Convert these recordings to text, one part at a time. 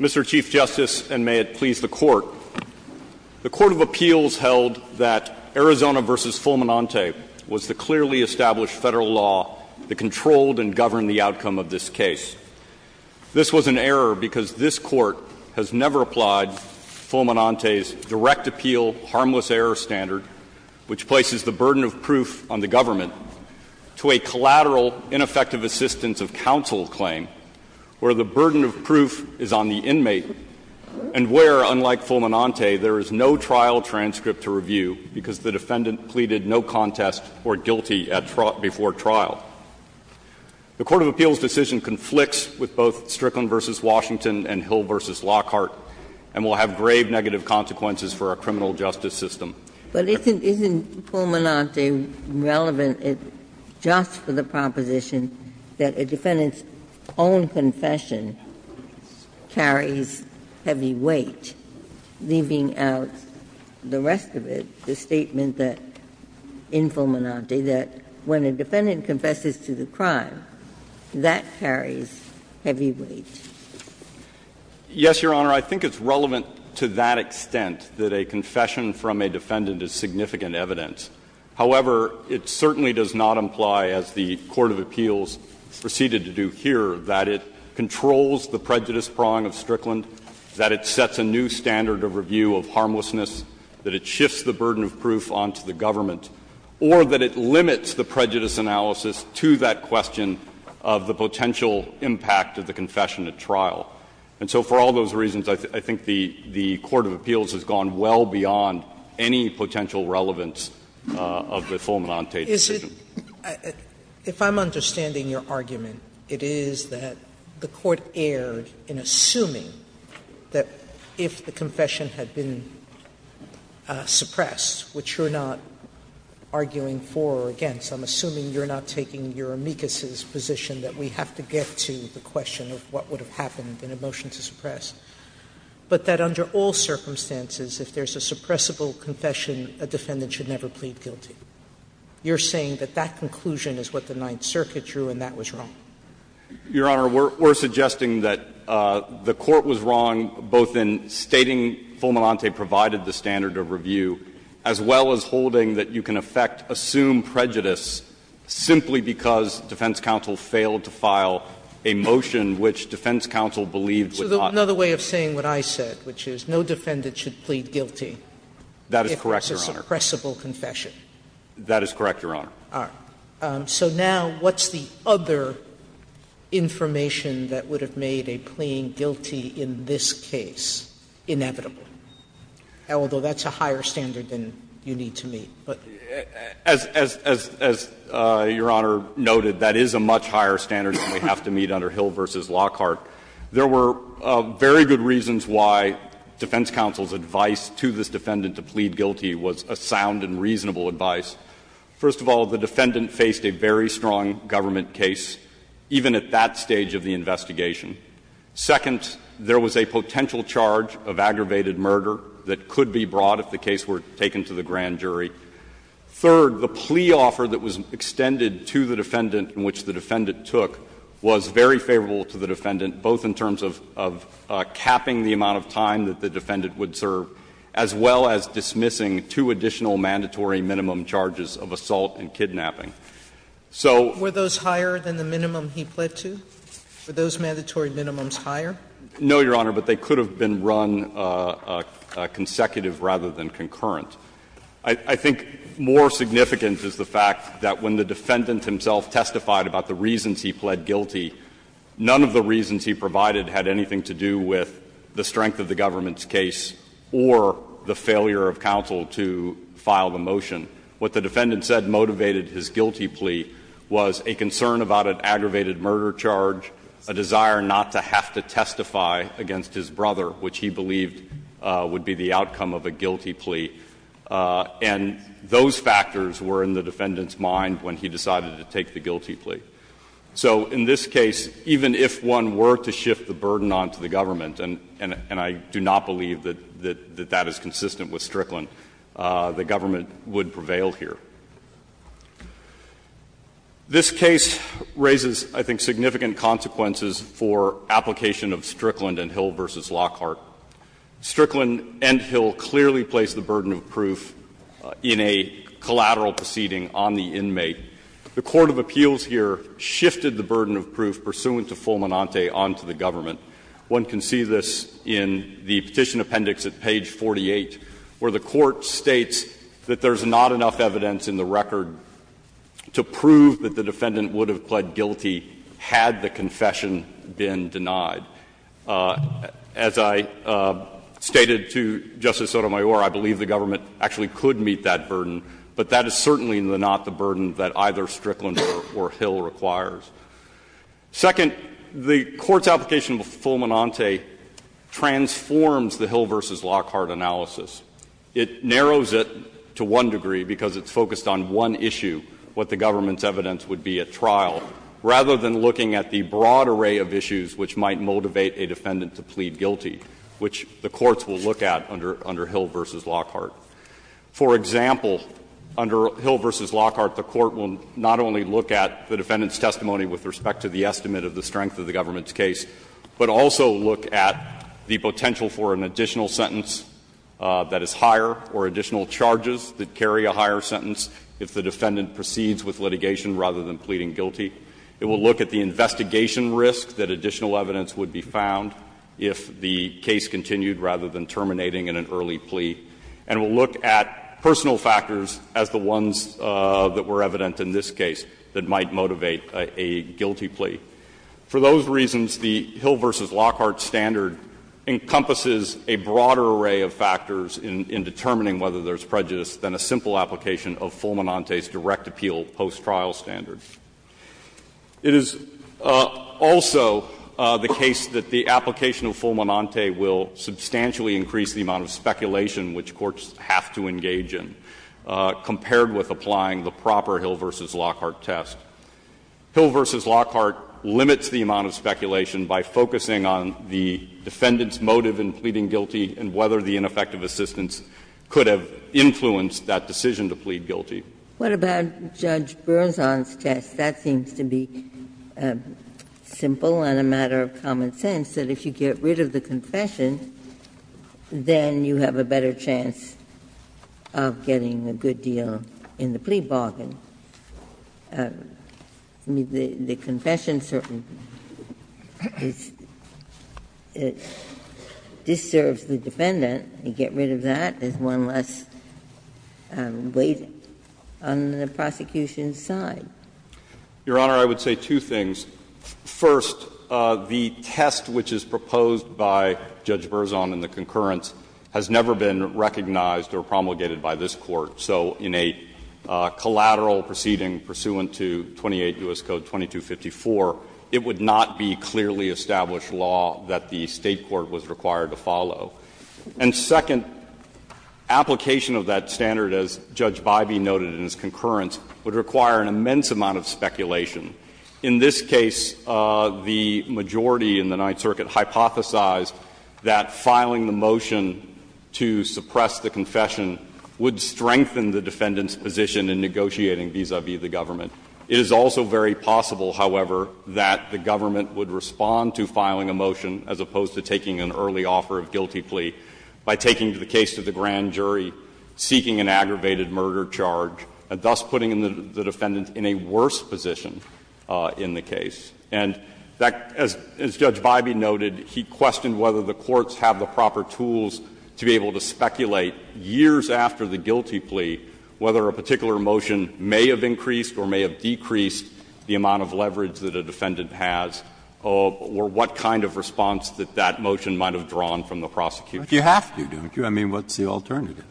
Mr. Chief Justice, and may it please the Court. The Court of Appeals held that Arizona v. Fulminante was the clearly established federal law that controlled and governed the outcome of this case. This was an error because this Court has never applied Fulminante's direct-appeal harmless-error standard, which places the burden of proof on the government, to a collateral ineffective assistance-of-counsel claim, where the burden of proof is on the inmate, and where, unlike Fulminante, there is no trial transcript to review because the defendant pleaded no contest or guilty before trial. The Court of Appeals' decision conflicts with both Strickland v. Washington and Hill v. Lockhart, and will have grave negative consequences for our criminal justice system. Ginsburg. But isn't Fulminante relevant just for the proposition that a defendant's own confession carries heavy weight, leaving out the rest of it, the statement that, in Fulminante, that when a defendant confesses to the crime, that carries heavy weight? Yes, Your Honor. I think it's relevant to that extent, that a confession from a defendant is significant evidence. However, it certainly does not imply, as the Court of Appeals proceeded to do here, that it controls the prejudice prong of Strickland, that it sets a new standard of review of harmlessness, that it shifts the burden of proof on to the government, or that it limits the prejudice analysis to that question of the potential impact of the confession at trial. And so for all those reasons, I think the Court of Appeals has gone well beyond any potential relevance of the Fulminante decision. Sotomayor, if I'm understanding your argument, it is that the Court erred in assuming that if the confession had been suppressed, which you're not arguing for or against – I'm assuming you're not taking Eurimekas's position that we have to get to the question of what would have happened in a motion to suppress – but that under all circumstances, if there's a suppressible confession, a defendant should never plead guilty. You're saying that that conclusion is what the Ninth Circuit drew and that was wrong. Your Honor, we're suggesting that the Court was wrong both in stating Fulminante provided the standard of review, as well as holding that you can affect assumed prejudice simply because defense counsel failed to file a motion which defense counsel believed would not. Sotomayor, so another way of saying what I said, which is no defendant should plead guilty. That is correct, Your Honor. If there's a suppressible confession. That is correct, Your Honor. Sotomayor, so now what's the other information that would have made a pleading guilty in this case inevitable? Although that's a higher standard than you need to meet. As Your Honor noted, that is a much higher standard than we have to meet under Hill v. Lockhart. There were very good reasons why defense counsel's advice to this defendant to plead guilty was a sound and reasonable advice. First of all, the defendant faced a very strong government case, even at that stage of the investigation. Second, there was a potential charge of aggravated murder that could be brought if the case were taken to the grand jury. Third, the plea offer that was extended to the defendant in which the defendant took was very favorable to the defendant, both in terms of capping the amount of time that the defendant would serve, as well as dismissing two additional mandatory minimum charges of assault and kidnapping. So we're those higher than the minimum he pled to? Were those mandatory minimums higher? No, Your Honor, but they could have been run consecutive rather than concurrent. I think more significant is the fact that when the defendant himself testified about the reasons he pled guilty, none of the reasons he provided had anything to do with the strength of the government's case or the failure of counsel to file the motion. What the defendant said motivated his guilty plea was a concern about an aggravated murder charge, a desire not to have to testify against his brother, which he believed would be the outcome of a guilty plea. And those factors were in the defendant's mind when he decided to take the guilty plea. So in this case, even if one were to shift the burden onto the government, and I do not believe that that is consistent with Strickland, the government would prevail here. This case raises, I think, significant consequences for application of Strickland and Hill v. Lockhart. Strickland and Hill clearly placed the burden of proof in a collateral proceeding on the inmate. The court of appeals here shifted the burden of proof pursuant to Fulminante onto the government. One can see this in the Petition Appendix at page 48, where the court states that there's not enough evidence in the record to prove that the defendant would have pled guilty had the confession been denied. As I stated to Justice Sotomayor, I believe the government actually could meet that burden, but that is certainly not the burden that either Strickland or Hill requires. Second, the Court's application of Fulminante transforms the Hill v. Lockhart analysis. It narrows it to one degree because it's focused on one issue, what the government's evidence would be at trial, rather than looking at the broad array of issues which might motivate a defendant to plead guilty, which the courts will look at under Hill v. Lockhart. For example, under Hill v. Lockhart, the Court will not only look at the defendant's testimony with respect to the estimate of the strength of the government's case, but also look at the potential for an additional sentence that is higher or additional charges that carry a higher sentence if the defendant proceeds with litigation rather than pleading guilty. It will look at the investigation risk that additional evidence would be found if the case continued rather than terminating in an early plea, and will look at personal factors as the ones that were evident in this case that might motivate a guilty plea. For those reasons, the Hill v. Lockhart standard encompasses a broader array of factors in determining whether there is prejudice than a simple application of Fulminante's direct appeal post-trial standard. It is also the case that the application of Fulminante will substantially increase the amount of speculation which courts have to engage in compared with applying the proper Hill v. Lockhart test. Hill v. Lockhart limits the amount of speculation by focusing on the defendant's motive in pleading guilty and whether the ineffective assistance could have influenced that decision to plead guilty. Ginsburg. What about Judge Berzon's test? That seems to be simple and a matter of common sense, that if you get rid of the confession, then you have a better chance of getting a good deal in the plea bargain. I mean, the confession certainly disturbs the defendant. You get rid of that, there's one less weight on the prosecution's side. Your Honor, I would say two things. First, the test which is proposed by Judge Berzon in the concurrence has never been recognized or promulgated by this Court. So in a collateral proceeding pursuant to 28 U.S. Code 2254, it would not be clearly established law that the State court was required to follow. And second, application of that standard, as Judge Bybee noted in his concurrence, would require an immense amount of speculation. In this case, the majority in the Ninth Circuit hypothesized that filing the motion to suppress the confession would strengthen the defendant's position in negotiating vis-a-vis the government. It is also very possible, however, that the government would respond to filing a motion as opposed to taking an early offer of guilty plea by taking the case to the grand jury, seeking an aggravated murder charge, and thus putting the defendant in a worse position in the case. And that, as Judge Bybee noted, he questioned whether the courts have the proper tools to be able to speculate years after the guilty plea whether a particular motion may have increased or may have decreased the amount of leverage that a defendant has, or what kind of response that that motion might have drawn from the prosecution. Breyer, I mean, what's the alternative?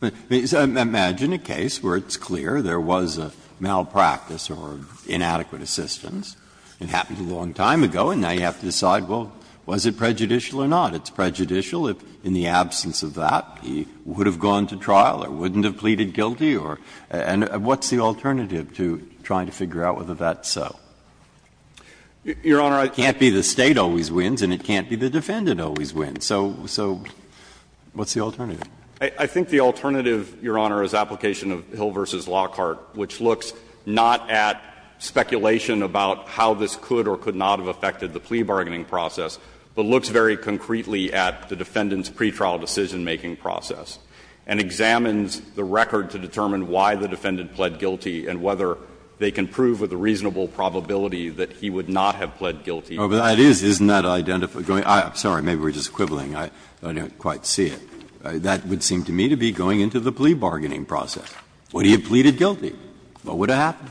I mean, imagine a case where it's clear there was a malpractice or inadequate assistance. It happened a long time ago, and now you have to decide, well, was it prejudicial or not? It's prejudicial if in the absence of that he would have gone to trial or wouldn't have pleaded guilty or — and what's the alternative to trying to figure out whether that's so? Your Honor, it can't be the State always wins and it can't be the defendant always wins. So what's the alternative? I think the alternative, Your Honor, is application of Hill v. Lockhart, which looks not at speculation about how this could or could not have affected the plea bargaining process, but looks very concretely at the defendant's pretrial decisionmaking process and examines the record to determine why the defendant pled guilty and whether they can prove with a reasonable probability that he would not have pled guilty. Oh, but that is, isn't that identify — I'm sorry, maybe we're just quibbling. I don't quite see it. That would seem to me to be going into the plea bargaining process. Would he have pleaded guilty? What would have happened?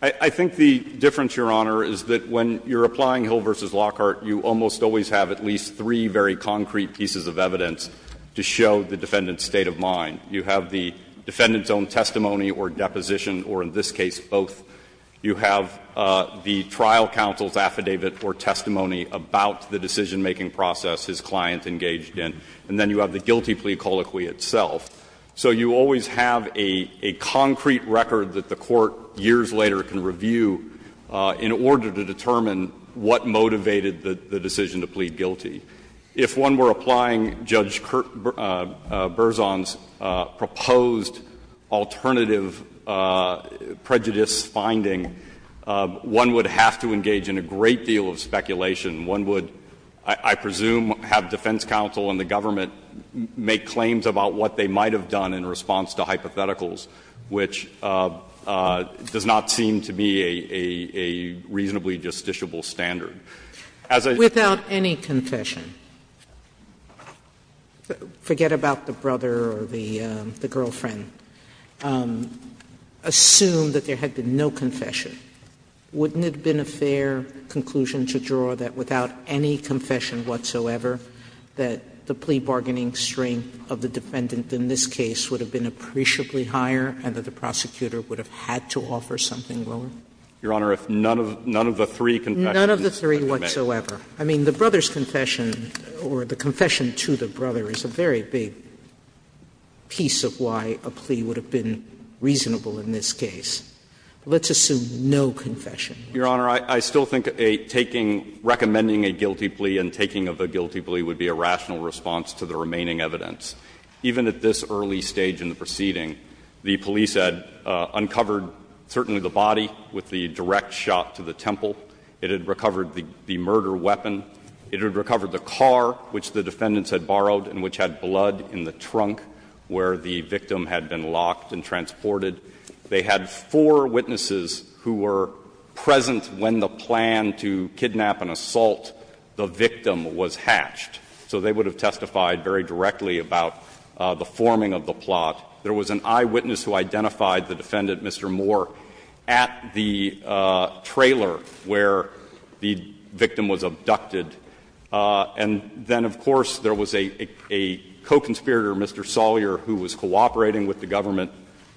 I think the difference, Your Honor, is that when you're applying Hill v. Lockhart, you almost always have at least three very concrete pieces of evidence to show the defendant's state of mind. You have the defendant's own testimony or deposition, or in this case both. You have the trial counsel's affidavit or testimony about the decisionmaking process his client engaged in. And then you have the guilty plea colloquy itself. So you always have a concrete record that the Court years later can review in order to determine what motivated the decision to plead guilty. If one were applying Judge Berzon's proposed alternative prejudice finding, one would I presume have defense counsel and the government make claims about what they might have done in response to hypotheticals, which does not seem to me a reasonably justiciable standard. As a — Sotomayor, without any confession, forget about the brother or the girlfriend, assume that there had been no confession, wouldn't it have been a fair conclusion to draw that without any confession whatsoever that the plea bargaining strength of the defendant in this case would have been appreciably higher and that the prosecutor would have had to offer something lower? Your Honor, if none of the three confessions had been made. None of the three whatsoever. I mean, the brother's confession or the confession to the brother is a very big piece of why a plea would have been reasonable in this case. Let's assume no confession. Your Honor, I still think a taking — recommending a guilty plea and taking of a guilty plea would be a rational response to the remaining evidence. Even at this early stage in the proceeding, the police had uncovered certainly the body with the direct shot to the temple. It had recovered the murder weapon. It had recovered the car which the defendants had borrowed and which had blood in the trunk where the victim had been locked and transported. They had four witnesses who were present when the plan to kidnap and assault the victim was hatched. So they would have testified very directly about the forming of the plot. There was an eyewitness who identified the defendant, Mr. Moore, at the trailer where the victim was abducted. And then, of course, there was a co-conspirator, Mr. Sawyer, who was cooperating with the government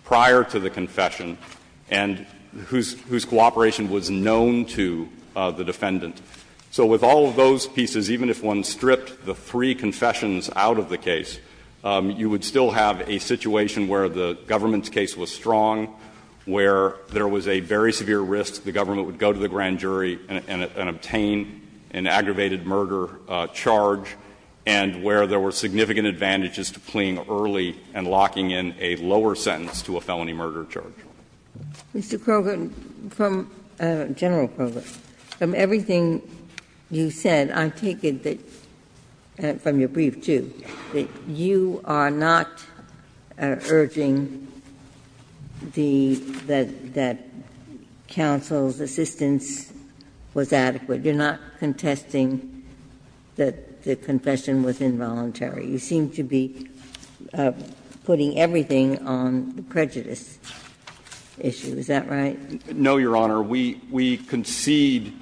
prior to the confession and whose cooperation was known to the defendant. So with all of those pieces, even if one stripped the three confessions out of the case, you would still have a situation where the government's case was strong, where there was a very severe risk the government would go to the grand jury and obtain an aggravated murder charge, and where there were significant advantages to pleaing early and locking in a lower sentence to a felony murder charge. Ginsburg. Mr. Kroger, from the general program, from everything you said, I take it that and from your brief, too, that you are not urging the that that counsel's assistance was adequate. You're not contesting that the confession was involuntary. You seem to be putting everything on the prejudice issue. Is that right? No, Your Honor. We concede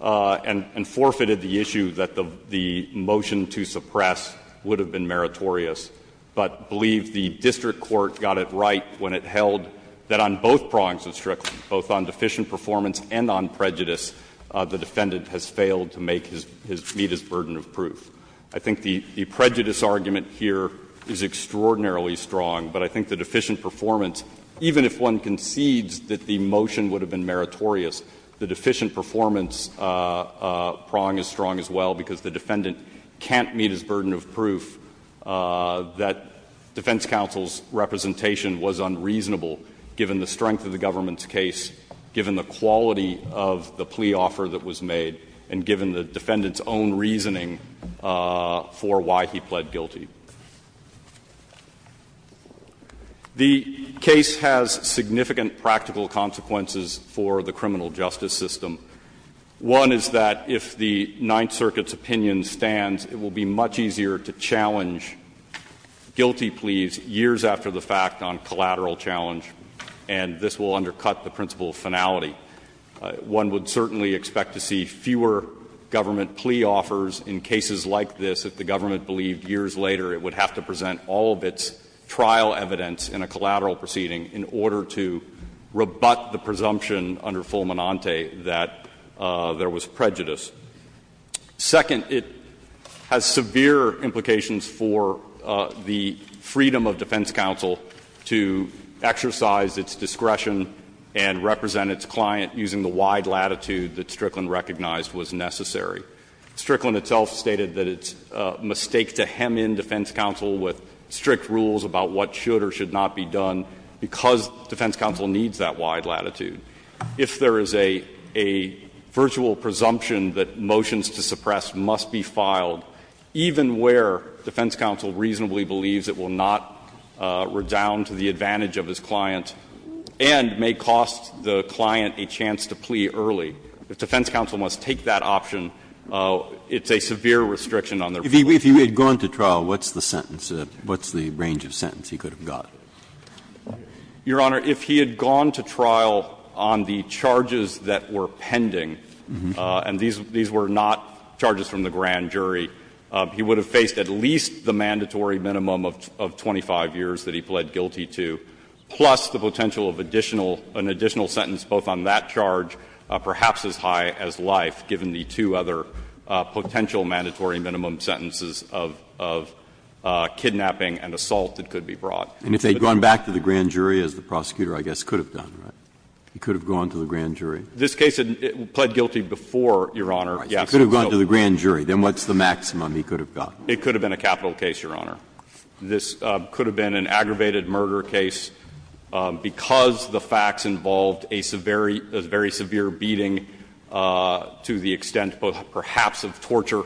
and forfeited the issue that the motion to suppress would have been meritorious, but believe the district court got it right when it held that on both prongs of Strickland, both on deficient performance and on prejudice, the defendant has failed to make his burden of proof. I think the prejudice argument here is extraordinarily strong, but I think the deficient performance, even if one concedes that the motion would have been meritorious, the deficient performance prong is strong as well, because the defendant can't meet his burden of proof that defense counsel's representation was unreasonable given the strength of the government's case, given the quality of the plea offer that was made, and given the defendant's own reasoning of the defense counsel's plea offer for why he pled guilty. The case has significant practical consequences for the criminal justice system. One is that if the Ninth Circuit's opinion stands, it will be much easier to challenge guilty pleas years after the fact on collateral challenge, and this will undercut the principle of finality. One would certainly expect to see fewer government plea offers in cases like this if the government believed years later it would have to present all of its trial evidence in a collateral proceeding in order to rebut the presumption under Fulminante that there was prejudice. Second, it has severe implications for the freedom of defense counsel to exercise its discretion and represent its client using the wide latitude that Strickland recognized was necessary. Strickland itself stated that it's a mistake to hem in defense counsel with strict rules about what should or should not be done because defense counsel needs that wide latitude. If there is a virtual presumption that motions to suppress must be filed, even where defense counsel reasonably believes it will not redound to the advantage of his client and may cost the client a chance to plea early, the defense counsel must take that option. It's a severe restriction on their freedom. If he had gone to trial, what's the sentence, what's the range of sentence he could have got? Your Honor, if he had gone to trial on the charges that were pending, and these were not charges from the grand jury, he would have faced at least the mandatory minimum of 25 years that he pled guilty to, plus the potential of additional an additional sentence both on that charge, perhaps as high as life, given the two other potential mandatory minimum sentences of kidnapping and assault that could be brought. And if they had gone back to the grand jury, as the prosecutor, I guess, could have done, right? He could have gone to the grand jury. This case had pled guilty before, Your Honor, yes. He could have gone to the grand jury. Then what's the maximum he could have got? It could have been a capital case, Your Honor. This could have been an aggravated murder case because the facts involved a very severe beating to the extent perhaps of torture,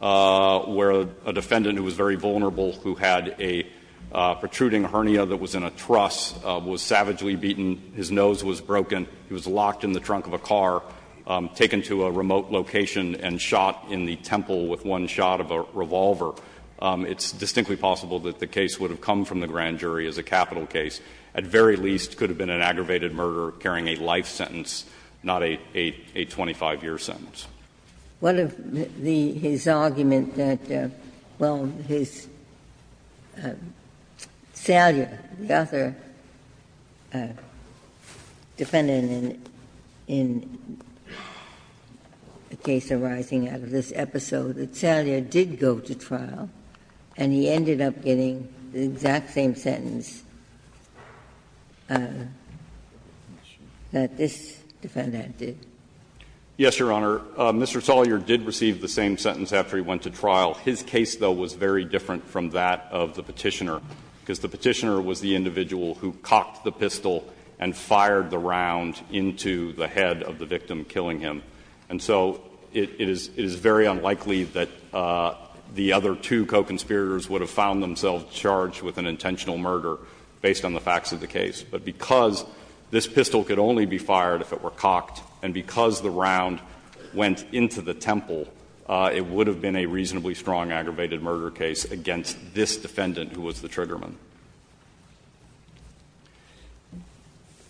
where a defendant who was very vulnerable who had a protruding hernia that was in a truss was savagely beaten, his nose was broken, and he was locked in the trunk of a car, taken to a remote location, and shot in the temple with one shot of a revolver. It's distinctly possible that the case would have come from the grand jury as a capital case, at very least could have been an aggravated murder carrying a life sentence, not a 25-year sentence. Ginsburg. What of the his argument that, well, his, Salyer, the other defendant in a case arising out of this episode, that Salyer did go to trial and he ended up getting the exact same sentence that this defendant did? Yes, Your Honor. Mr. Salyer did receive the same sentence after he went to trial. His case, though, was very different from that of the Petitioner, because the Petitioner was the individual who cocked the pistol and fired the round into the head of the victim killing him. And so it is very unlikely that the other two co-conspirators would have found themselves charged with an intentional murder based on the facts of the case. But because this pistol could only be fired if it were cocked, and because the round went into the temple, it would have been a reasonably strong aggravated murder case against this defendant, who was the triggerman.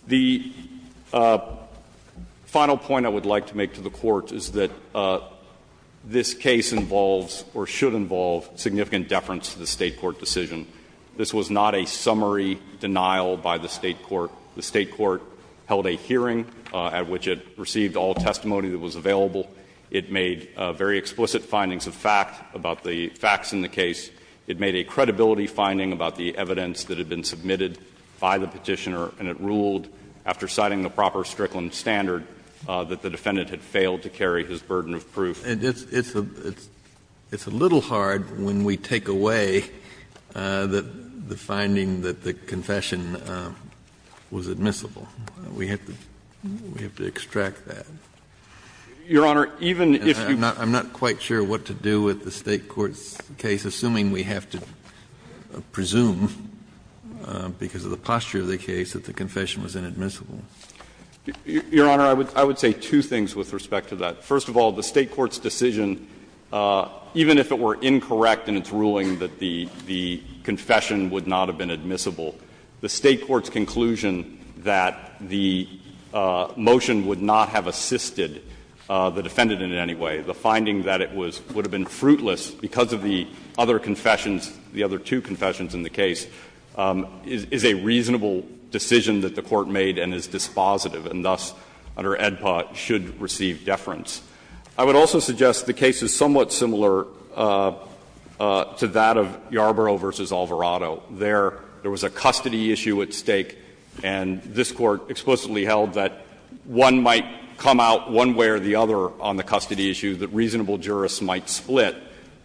The final point I would like to make to the Court is that this case involves or should involve significant deference to the State court decision. This was not a summary denial by the State court. The State court held a hearing at which it received all testimony that was available. It made very explicit findings of fact about the facts in the case. It made a credibility finding about the evidence that had been submitted by the Petitioner, and it ruled, after citing the proper Strickland standard, that the defendant had failed to carry his burden of proof. Kennedy, it's a little hard when we take away the finding that the confession was admissible. We have to extract that. Your Honor, even if you I'm not quite sure what to do with the State court's case, assuming we have to presume, because of the posture of the case, that the confession was inadmissible. Your Honor, I would say two things with respect to that. First of all, the State court's decision, even if it were incorrect in its ruling that the confession would not have been admissible, the State court's conclusion that the motion would not have assisted the defendant in any way, the finding that it was or would have been fruitless because of the other confessions, the other two confessions in the case, is a reasonable decision that the court made and is dispositive, and thus, under AEDPA, should receive deference. I would also suggest the case is somewhat similar to that of Yarborough v. Alvarado. There, there was a custody issue at stake, and this Court explicitly held that one might come out one way or the other on the custody issue, that reasonable jurists might split,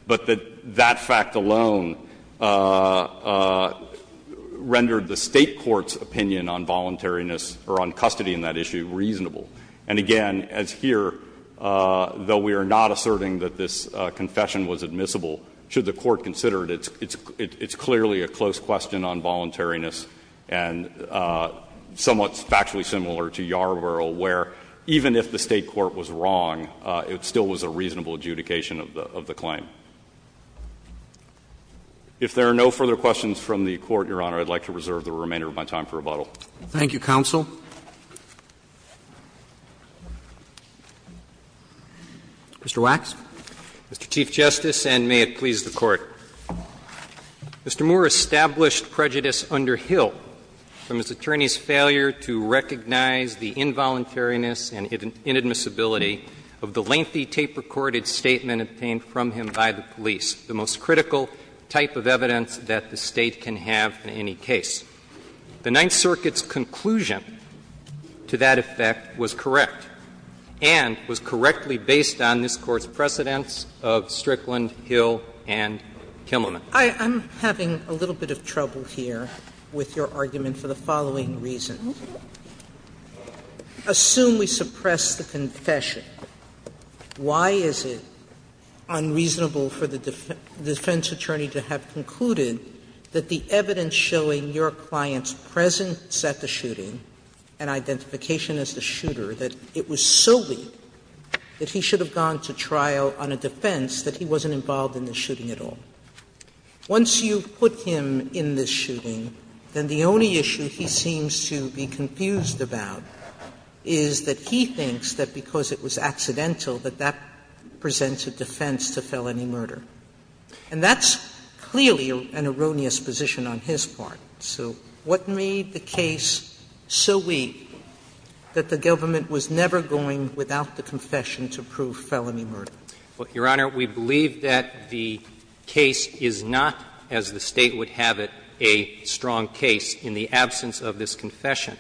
but that that fact alone rendered the State court's opinion on voluntariness or on custody in that issue reasonable. And again, as here, though we are not asserting that this confession was admissible, should the court consider it, it's clearly a close question on voluntariness and somewhat factually similar to Yarborough, where even if the State court was wrong, it still was a reasonable adjudication of the claim. If there are no further questions from the Court, Your Honor, I would like to reserve the remainder of my time for rebuttal. Roberts. Thank you, counsel. Mr. Wax. Mr. Chief Justice, and may it please the Court. Mr. Moore established prejudice under Hill from his attorney's failure to recognize the involuntariness and inadmissibility of the lengthy tape-recorded statement obtained from him by the police, the most critical type of evidence that the State can have in any case. The Ninth Circuit's conclusion to that effect was correct and was correctly based on this Court's precedents of Strickland, Hill, and Kimmelman. Sotomayor I'm having a little bit of trouble here with your argument for the following reason. Assume we suppress the confession. Why is it unreasonable for the defense attorney to have concluded that the evidence showing your client's presence at the shooting and identification as the shooter, that it was so weak that he should have gone to trial on a defense that he wasn't involved in the shooting at all? Once you've put him in this shooting, then the only issue he seems to be confused about is that he thinks that because it was accidental, that that presents a defense to felony murder. And that's clearly an erroneous position on his part. So what made the case so weak that the government was never going without the confession to prove felony murder? Well, Your Honor, we believe that the case is not, as the State would have it, a strong case in the absence of this confession.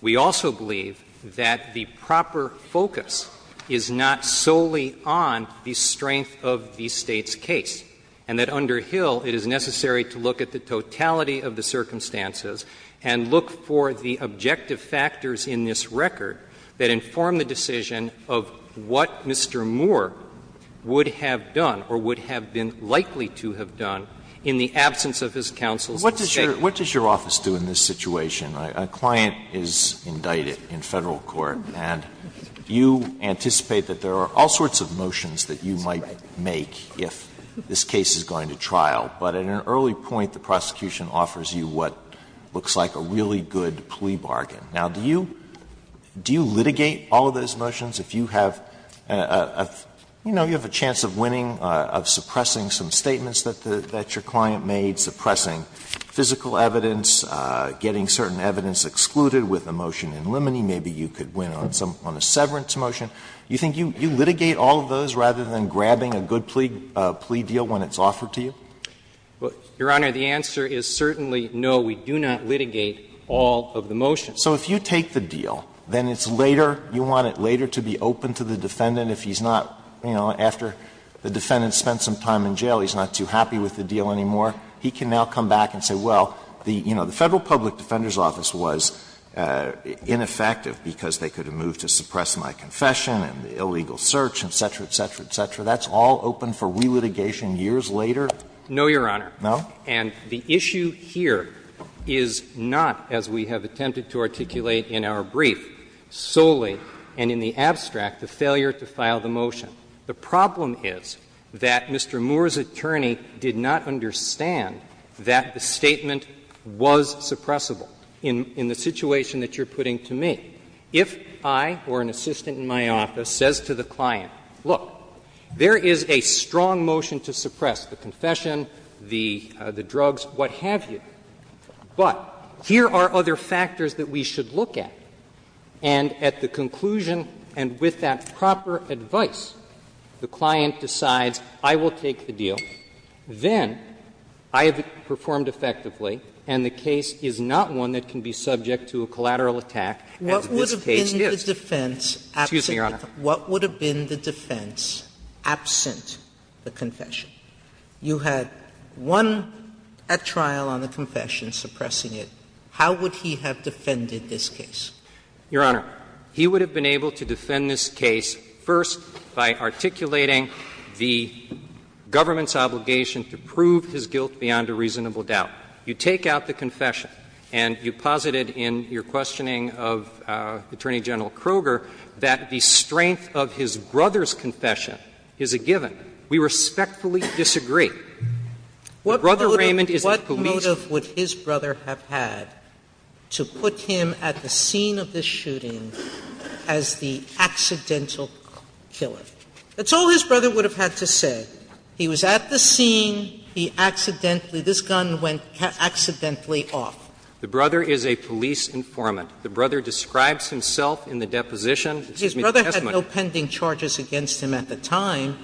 We also believe that the proper focus is not solely on the strength of the State's case, and that under Hill it is necessary to look at the totality of the circumstances and look for the objective factors in this record that inform the decision of what Mr. Moore would have done or would have been likely to have done in the absence of his counsel's statement. Alito, what does your office do in this situation? A client is indicted in Federal court, and you anticipate that there are all sorts of motions that you might make if this case is going to trial. But at an early point, the prosecution offers you what looks like a really good plea bargain. Now, do you litigate all of those motions? If you have a chance of winning, of suppressing some statements that your client made, suppressing physical evidence, getting certain evidence excluded with a motion in limine, maybe you could win on a severance motion, you think you litigate all of those rather than grabbing a good plea deal when it's offered to you? Your Honor, the answer is certainly no, we do not litigate all of the motions. So if you take the deal, then it's later, you want it later to be open to the defendant if he's not, you know, after the defendant spent some time in jail, he's not too happy with the deal anymore, he can now come back and say, well, you know, the Federal Public Defender's Office was ineffective because they could have moved to suppress my confession and the illegal search, et cetera, et cetera, et cetera. That's all open for re-litigation years later? No, Your Honor. No? And the issue here is not, as we have attempted to articulate in our brief solely, and in the abstract, the failure to file the motion. If I, or an assistant in my office, says to the client, look, there is a strong motion to suppress the confession, the drugs, what have you, but here are other factors that we should look at, and at the conclusion, and with that proper advice, the client decides I will take the deal, then I have performed effectively and the case is not one that can be subject to a collateral attack, as this case is. Sotomayor, what would have been the defense absent the confession? You had one at trial on the confession suppressing it. How would he have defended this case? Your Honor, he would have been able to defend this case first by articulating the government's obligation to prove his guilt beyond a reasonable doubt. You take out the confession, and you posited in your questioning of Attorney General Kroger that the strength of his brother's confession is a given. We respectfully disagree. The brother, Raymond, is a policeman. Sotomayor, what motive would his brother have had to put him at the scene of the shooting as the accidental killer? That's all his brother would have had to say. He was at the scene, he accidentally – this gun went accidentally off. The brother is a police informant. The brother describes himself in the deposition. Excuse me, the testimony. His brother had no pending charges against him at the time.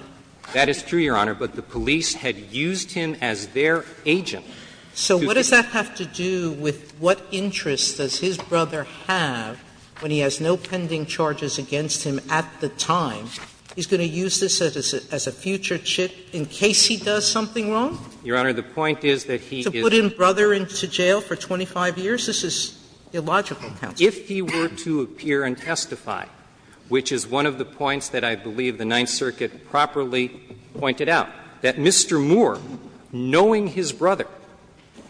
That is true, Your Honor, but the police had used him as their agent. So what does that have to do with what interest does his brother have when he has no pending charges against him at the time? He's going to use this as a future chip in case he does something wrong? Your Honor, the point is that he is the brother into jail for 25 years? This is illogical. If he were to appear and testify, which is one of the points that I believe the Ninth Circuit properly pointed out, that Mr. Moore, knowing his brother,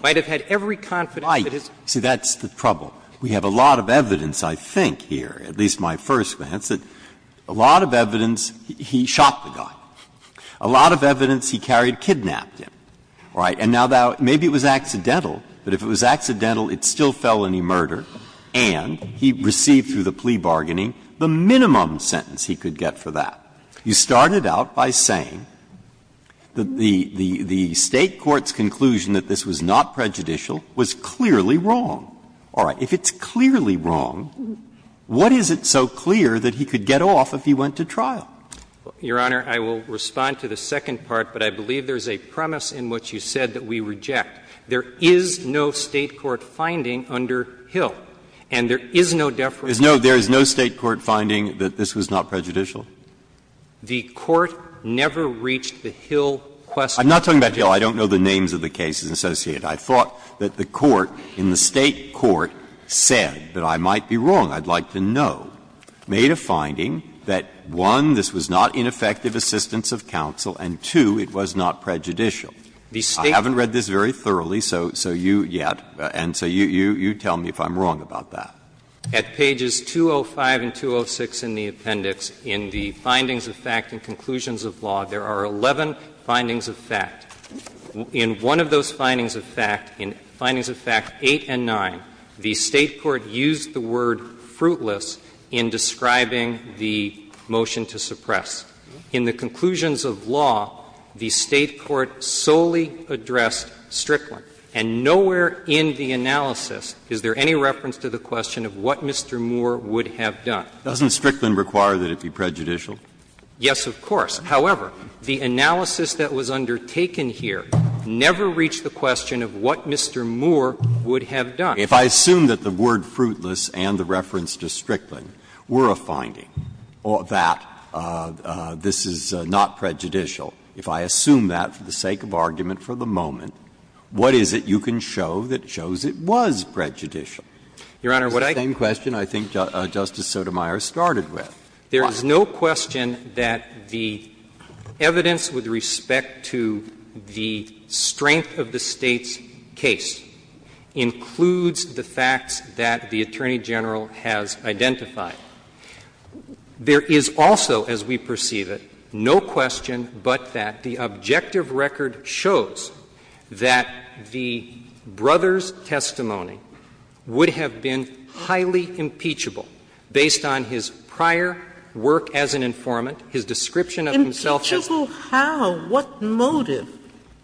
might have had every confidence that his brother. Breyer, see, that's the trouble. We have a lot of evidence, I think, here, at least my first glance, that a lot of evidence he shot the guy. A lot of evidence he carried kidnapped him, right? And now that – maybe it was accidental, but if it was accidental, it's still felony murder, and he received through the plea bargaining the minimum sentence he could get for that. You started out by saying that the State court's conclusion that this was not prejudicial was clearly wrong. All right. If it's clearly wrong, what is it so clear that he could get off if he went to trial? Your Honor, I will respond to the second part, but I believe there is a premise in which you said that we reject. There is no State court finding under Hill, and there is no deference. There is no State court finding that this was not prejudicial? The court never reached the Hill question. I'm not talking about Hill. I don't know the names of the cases associated. I thought that the court in the State court said that I might be wrong. I'd like to know, made a finding that, one, this was not ineffective assistance of counsel, and, two, it was not prejudicial. I haven't read this very thoroughly, so you yet, and so you tell me if I'm wrong about that. At pages 205 and 206 in the appendix, in the findings of fact and conclusions of law, there are 11 findings of fact. In one of those findings of fact, in findings of fact 8 and 9, the State court used the word fruitless in describing the motion to suppress. In the conclusions of law, the State court solely addressed Strickland. And nowhere in the analysis is there any reference to the question of what Mr. Moore would have done. Doesn't Strickland require that it be prejudicial? Yes, of course. However, the analysis that was undertaken here never reached the question of what Mr. Moore would have done. Breyer. If I assume that the word fruitless and the reference to Strickland were a finding, that this is not prejudicial, if I assume that for the sake of argument for the moment, what is it you can show that shows it was prejudicial? Your Honor, what I can say is that this is the same question I think Justice Sotomayor started with. There is no question that the evidence with respect to the strength of the State's case includes the facts that the Attorney General has identified. There is also, as we perceive it, no question but that the objective record shows that the brother's testimony would have been highly impeachable based on his prior work as an informant, his description of himself as a prisoner. Sotomayor, in particular, how, what motive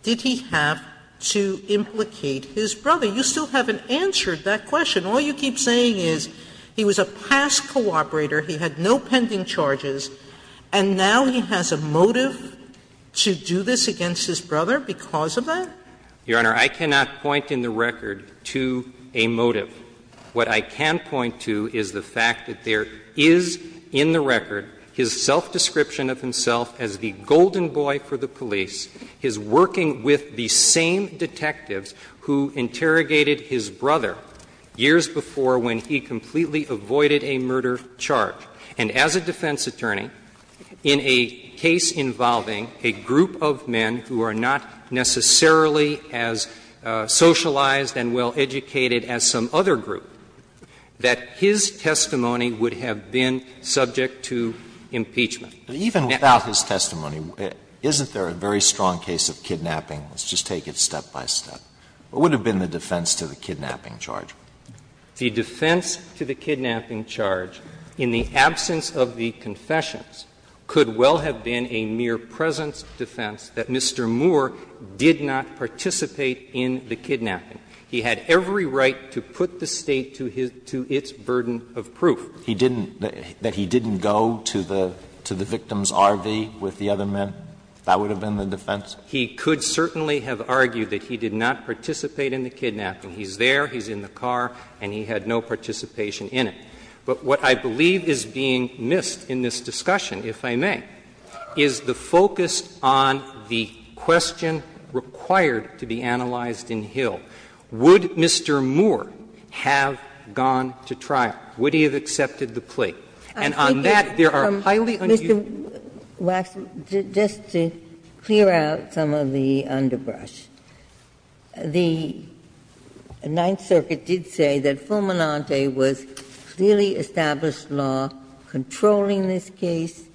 did he have to implicate his brother? You still haven't answered that question. All you keep saying is he was a past cooperator, he had no pending charges, and now he has a motive to do this against his brother because of that? Your Honor, I cannot point in the record to a motive. What I can point to is the fact that there is in the record his self-description of himself as the golden boy for the police, his working with the same detectives who interrogated his brother years before when he completely avoided a murder charge. And as a defense attorney, in a case involving a group of men who are not necessarily as socialized and well-educated as some other group, that his testimony would have been subject to impeachment. Even without his testimony, isn't there a very strong case of kidnapping? Let's just take it step by step. What would have been the defense to the kidnapping charge? The defense to the kidnapping charge, in the absence of the confessions, could well have been a mere presence defense that Mr. Moore did not participate in the kidnapping. He had every right to put the State to its burden of proof. He didn't go to the victim's RV with the other men? That would have been the defense? He could certainly have argued that he did not participate in the kidnapping. He's there, he's in the car, and he had no participation in it. But what I believe is being missed in this discussion, if I may, is the focus on the question required to be analyzed in Hill. Would Mr. Moore have gone to trial? Would he have accepted the plea? And on that, there are highly unusual cases. Ginsburg. Mr. Waxman, just to clear out some of the underbrush, the Ninth Circuit did say that the clearly established law controlling this case,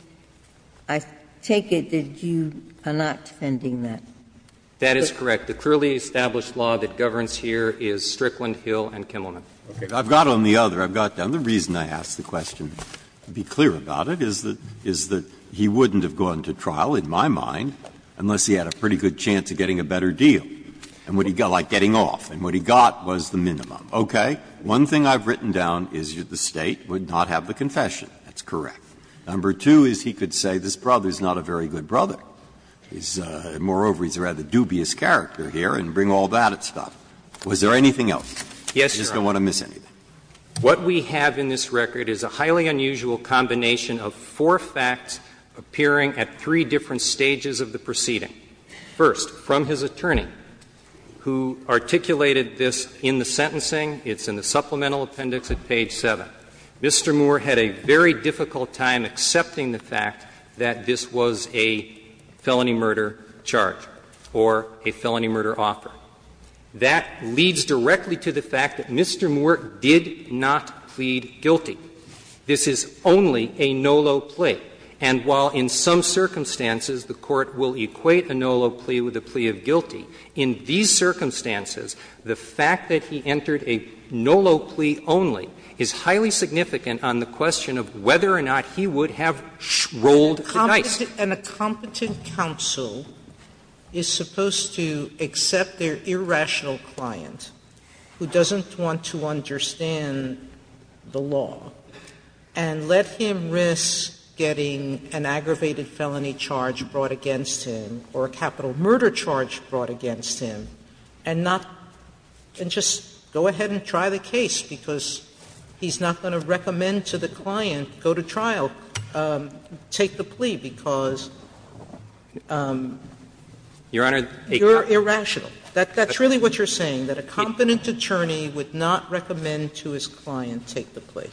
I take it that you are not defending that. That is correct. The clearly established law that governs here is Strickland, Hill, and Kimmelman. I've got on the other, I've got on the reason I asked the question, to be clear about it, is that he wouldn't have gone to trial, in my mind, unless he had a pretty good chance of getting a better deal, like getting off. And what he got was the minimum. Okay. One thing I've written down is that the State would not have the confession. That's correct. Number two is he could say this brother is not a very good brother. Moreover, he's a rather dubious character here, and bring all that stuff. Was there anything else? Yes, Your Honor. I just don't want to miss anything. What we have in this record is a highly unusual combination of four facts appearing at three different stages of the proceeding. First, from his attorney, who articulated this in the sentencing, it's in the supplemental appendix at page 7. Mr. Moore had a very difficult time accepting the fact that this was a felony murder charge or a felony murder offer. That leads directly to the fact that Mr. Moore did not plead guilty. This is only a no-low plea. And while in some circumstances the Court will equate a no-low plea with a plea of guilty, in these circumstances, the fact that he entered a no-low plea only is highly significant on the question of whether or not he would have rolled the dice. Sotomayor, an incompetent counsel is supposed to accept their irrational client who doesn't want to understand the law and let him risk getting an aggravated felony charge brought against him or a capital murder charge brought against him and not go ahead and try the case because he's not going to recommend to the client go to trial, take the plea because you're irrational. That's really what you're saying, that a competent attorney would not recommend to his client take the plea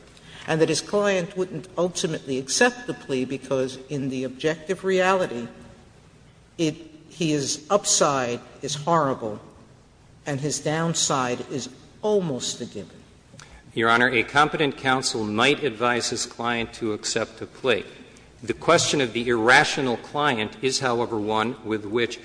and that his client wouldn't ultimately accept the plea because in the objective reality, his upside is horrible and his downside is almost a given. Your Honor, a competent counsel might advise his client to accept a plea. The question of the irrational client is, however, one with which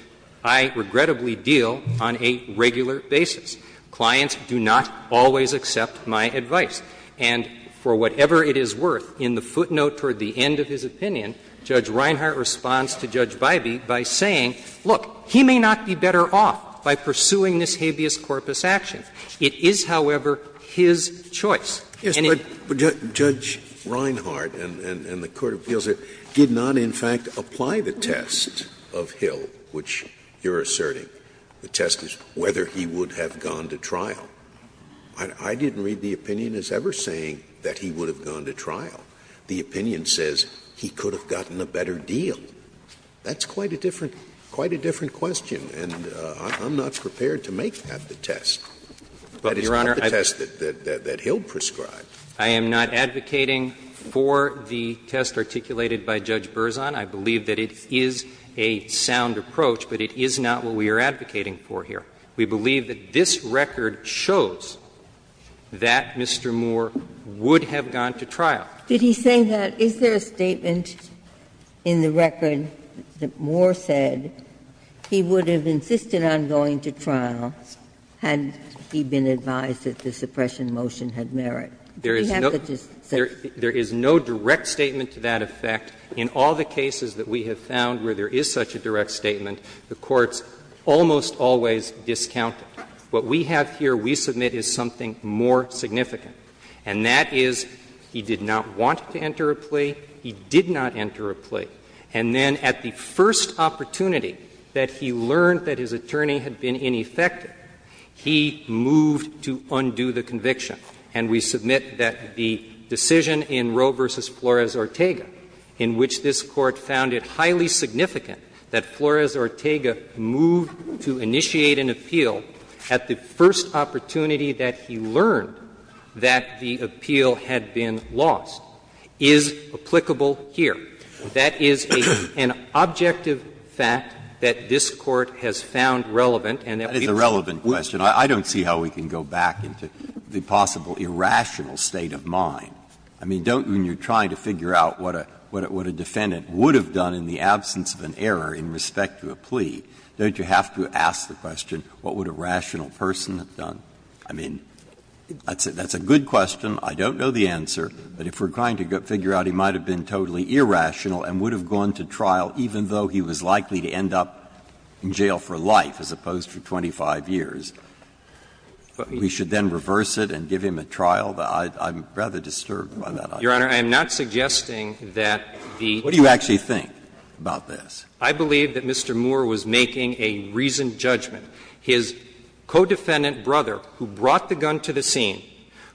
I regrettably deal on a regular basis. Clients do not always accept my advice. And for whatever it is worth, in the footnote toward the end of his opinion, Judge Reinhart responds to Judge Bybee by saying, look, he may not be better off by pursuing this habeas corpus action. It is, however, his choice. Scalia. But Judge Reinhart and the court of appeals did not in fact apply the test of Hill, which you're asserting, the test is whether he would have gone to trial. I didn't read the opinion as ever saying that he would have gone to trial. The opinion says he could have gotten a better deal. That's quite a different question and I'm not prepared to make that the test. That is not the test that Hill prescribed. I am not advocating for the test articulated by Judge Berzon. I believe that it is a sound approach, but it is not what we are advocating for here. We believe that this record shows that Mr. Moore would have gone to trial. Did he say that? Is there a statement in the record that Moore said he would have insisted on going to trial had he been advised that the suppression motion had merit? You have to just say. There is no direct statement to that effect. In all the cases that we have found where there is such a direct statement, the Court's almost always discounted. What we have here, we submit, is something more significant, and that is he did not want to enter a plea, he did not enter a plea, and then at the first opportunity that he learned that his attorney had been ineffective, he moved to undo the conviction. And we submit that the decision in Roe v. Flores-Ortega, in which this Court found it highly significant that Flores-Ortega moved to initiate an appeal at the first opportunity that he learned that the appeal had been lost, is applicable here. That is an objective fact that this Court has found relevant, and that we must do. Breyer, I don't see how we can go back into the possible irrational state of mind. I mean, don't, when you are trying to figure out what a defendant would have done in the absence of an error in respect to a plea, don't you have to ask the question, what would a rational person have done? I mean, that's a good question. I don't know the answer. But if we are trying to figure out he might have been totally irrational and would have gone to trial even though he was likely to end up in jail for life as opposed to 25 years, we should then reverse it and give him a trial? I'm rather disturbed by that idea. Your Honor, I am not suggesting that the attorney's decision in Roe v. Flores-Ortega was a reasonable decision. I believe that Mr. Moore was making a reasoned judgment. His co-defendant brother, who brought the gun to the scene,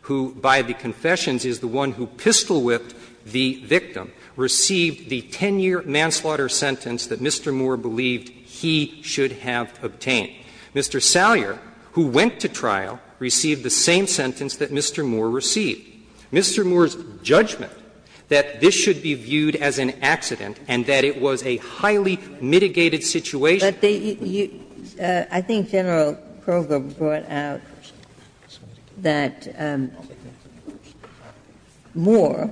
who by the confessions is the one who pistol-whipped the victim, received the 10-year manslaughter sentence that Mr. Moore believed he should have obtained. Mr. Salyer, who went to trial, received the same sentence that Mr. Moore received. Mr. Moore's judgment that this should be viewed as an accident and that it was a highly mitigated situation. But I think General Kroger brought out that Moore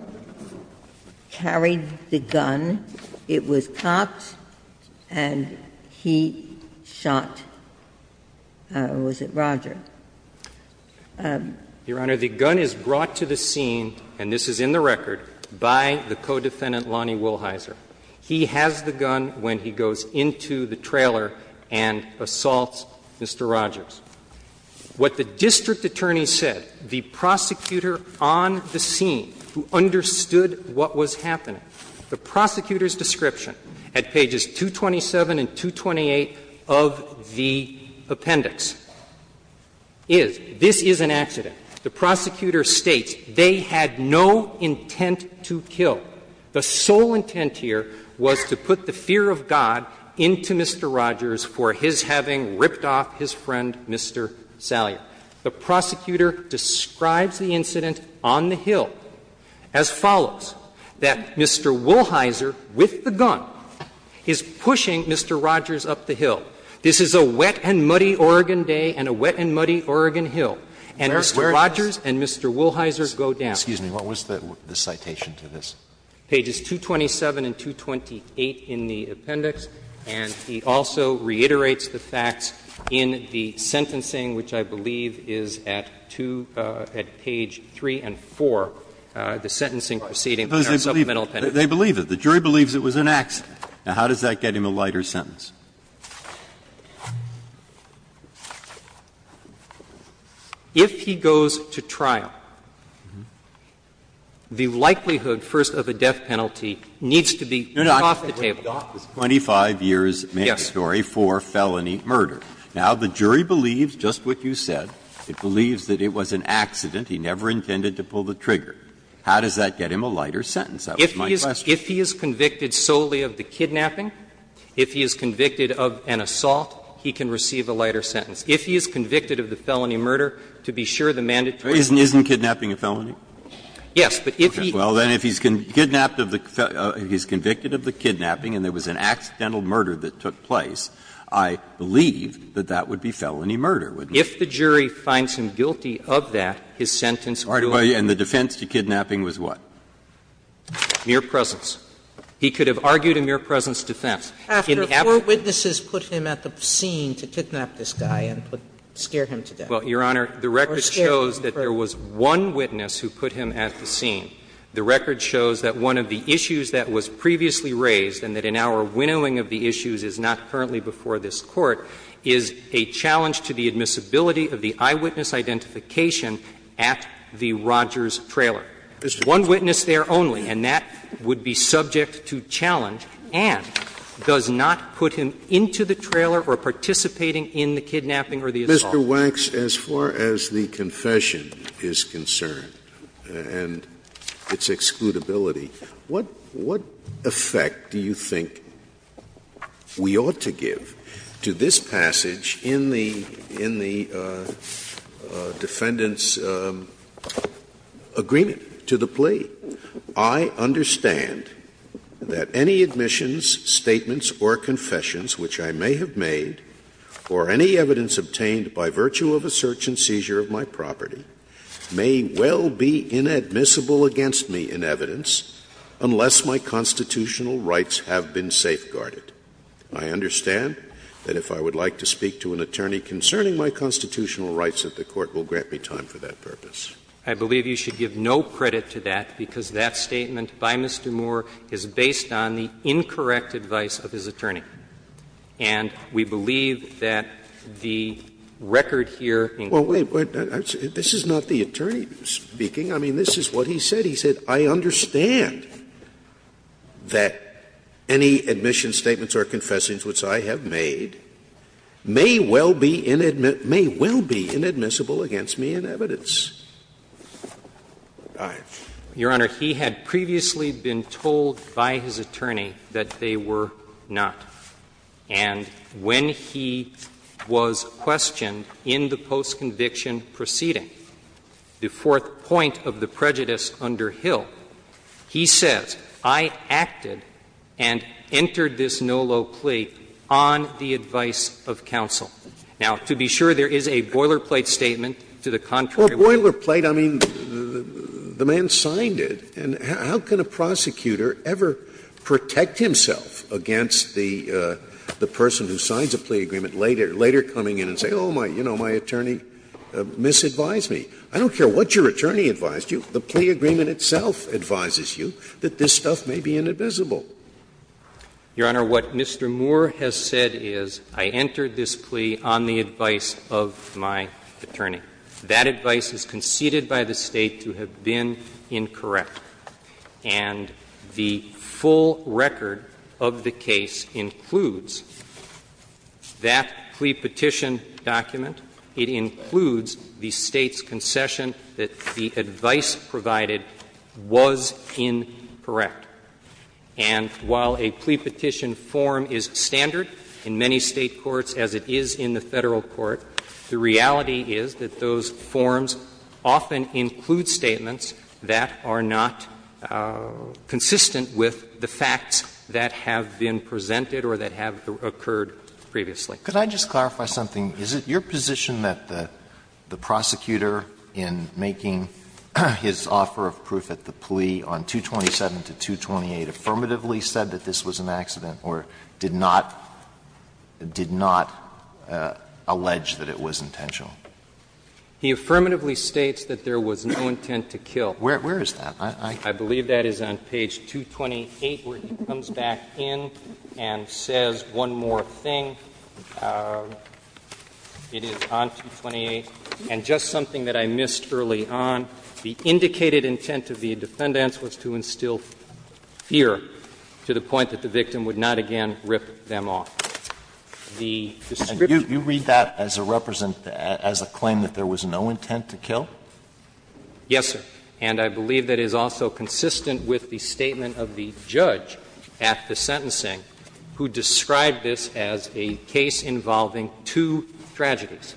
carried the gun, it was cops, and he shot, was it Roger? Your Honor, the gun is brought to the scene, and this is in the record, by the co-defendant Lonnie Wilhyser. He has the gun when he goes into the trailer and assaults Mr. Rogers. What the district attorney said, the prosecutor on the scene who understood what was happening, the prosecutor's description at pages 227 and 228 of the appendix is, this is an accident. The prosecutor states they had no intent to kill. The sole intent here was to put the fear of God into Mr. Rogers for his having ripped off his friend, Mr. Salyer. The prosecutor describes the incident on the hill as follows, that Mr. Wilhyser, with the gun, is pushing Mr. Rogers up the hill. This is a wet and muddy Oregon day and a wet and muddy Oregon hill, and Mr. Rogers and Mr. Wilhyser go down. Excuse me, what was the citation to this? Pages 227 and 228 in the appendix, and he also reiterates the facts in the sentencing, which I believe is at two at page 3 and 4, the sentencing proceeding in our supplemental appendix. They believe it. The jury believes it was an accident. Now, how does that get him a lighter sentence? If he goes to trial, the likelihood, first, of a death penalty needs to be off the table. Breyer, 25 years' story for felony murder. Now, the jury believes just what you said. It believes that it was an accident. He never intended to pull the trigger. How does that get him a lighter sentence? That was my question. If he is convicted solely of the kidnapping, if he is convicted of an assault, he can receive a lighter sentence. If he is convicted of the felony murder, to be sure, the mandatory sentence is off the table. Isn't kidnapping a felony? Yes, but if he is convicted of the kidnapping and there was an accidental murder that took place, I believe that that would be felony murder, wouldn't it? If the jury finds him guilty of that, his sentence will be off the table. And the defense to kidnapping was what? Mere presence. He could have argued a mere presence defense. Sotomayor, after four witnesses put him at the scene to kidnap this guy and scare him to death. Well, Your Honor, the record shows that there was one witness who put him at the scene. The record shows that one of the issues that was previously raised and that in our winnowing of the issues is not currently before this Court is a challenge to the admissibility of the eyewitness identification at the Rogers trailer. One witness there only, and that would be subject to challenge and does not put him into the trailer or participating in the kidnapping or the assault. Mr. Wax, as far as the confession is concerned and its excludability, what effect do you think we ought to give to this passage in the Defendant's agreement? To the plea, I understand that any admissions, statements, or confessions which I may have made, or any evidence obtained by virtue of a search and seizure of my property, may well be inadmissible against me in evidence, unless my constitutional rights have been safeguarded. I understand that if I would like to speak to an attorney concerning my constitutional rights that the Court will grant me time for that purpose. I believe you should give no credit to that, because that statement by Mr. Moore is based on the incorrect advice of his attorney, and we believe that the record here in Congress. Scalia, this is not the attorney speaking. I mean, this is what he said. He said, I understand that any admissions, statements, or confessions which I have made may well be inadmissible against me in evidence. Your Honor, he had previously been told by his attorney that they were not. And when he was questioned in the post-conviction proceeding, the fourth point of the prejudice under Hill, he says, I acted and entered this NOLO plea on the advice of counsel. Now, to be sure, there is a boilerplate statement to the contrary. Scalia, the boilerplate, I mean, the man signed it, and how can a prosecutor ever protect himself against the person who signs a plea agreement later, later coming in and saying, oh, you know, my attorney misadvised me? I don't care what your attorney advised you, the plea agreement itself advises you that this stuff may be inadmissible. Your Honor, what Mr. Moore has said is, I entered this plea on the advice of my attorney. That advice is conceded by the State to have been incorrect. And the full record of the case includes that plea petition document. It includes the State's concession that the advice provided was incorrect. And while a plea petition form is standard in many State courts, as it is in the Federal Court, the reality is that those forms often include statements that are not consistent with the facts that have been presented or that have occurred previously. Alito, could I just clarify something? Is it your position that the prosecutor in making his offer of proof at the plea on 227 to 228 affirmatively said that this was an accident or did not, did not allow the defendant to allege that it was intentional? He affirmatively states that there was no intent to kill. Where is that? I believe that is on page 228, where he comes back in and says one more thing. It is on 228. And just something that I missed early on, the indicated intent of the defendants was to instill fear to the point that the victim would not again rip them off. The description of the defendant's claim was that there was no intent to kill. Yes, sir. And I believe that is also consistent with the statement of the judge at the sentencing who described this as a case involving two tragedies.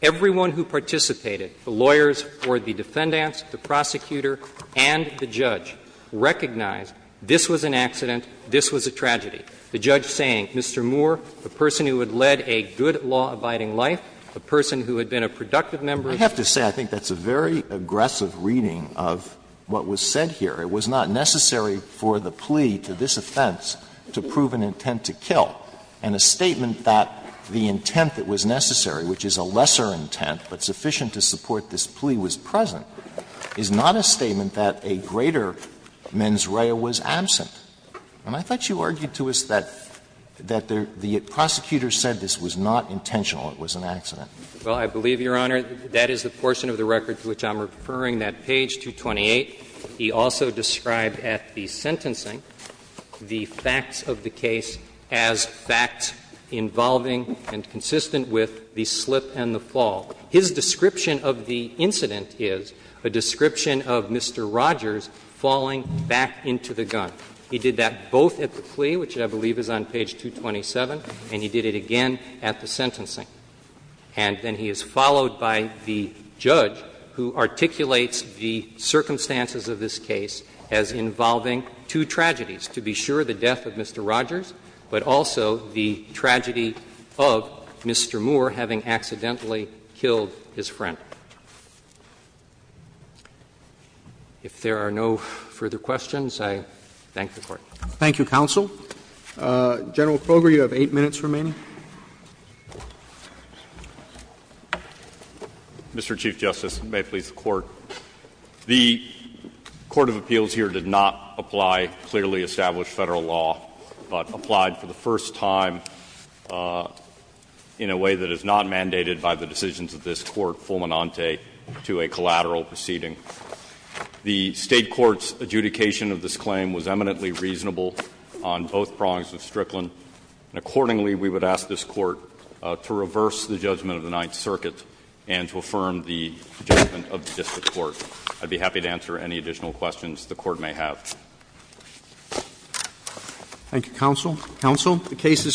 Everyone who participated, the lawyers for the defendants, the prosecutor, and the judge, recognized this was an accident, this was a tragedy. The judge saying, Mr. Moore, the person who had led a good law-abiding life, the person who had been a productive member of the community. I have to say I think that's a very aggressive reading of what was said here. It was not necessary for the plea to this offense to prove an intent to kill. And a statement that the intent that was necessary, which is a lesser intent but sufficient to support this plea, was present is not a statement that a greater mens rea was absent. And I thought you argued to us that the prosecutor said this was not intentional, it was an accident. Well, I believe, Your Honor, that is the portion of the record to which I'm referring that page 228. He also described at the sentencing the facts of the case as facts involving and consistent with the slip and the fall. His description of the incident is a description of Mr. Rogers falling back into the gun. He did that both at the plea, which I believe is on page 227, and he did it again at the sentencing. And then he is followed by the judge who articulates the circumstances of this case as involving two tragedies, to be sure, the death of Mr. Rogers, but also the tragedy of Mr. Moore having accidentally killed his friend. If there are no further questions, I thank the Court. Thank you, counsel. General Kroger, you have eight minutes remaining. Mr. Chief Justice, and may it please the Court. The court of appeals here did not apply clearly established Federal law, but applied for the first time in a way that is not mandated by the decisions of this Court, fulminante, to a collateral proceeding. The State court's adjudication of this claim was eminently reasonable on both prongs of Strickland. And accordingly, we would ask this Court to reverse the judgment of the Ninth Circuit and to affirm the judgment of the district court. I'd be happy to answer any additional questions the Court may have. Thank you, counsel. Counsel, the case is submitted.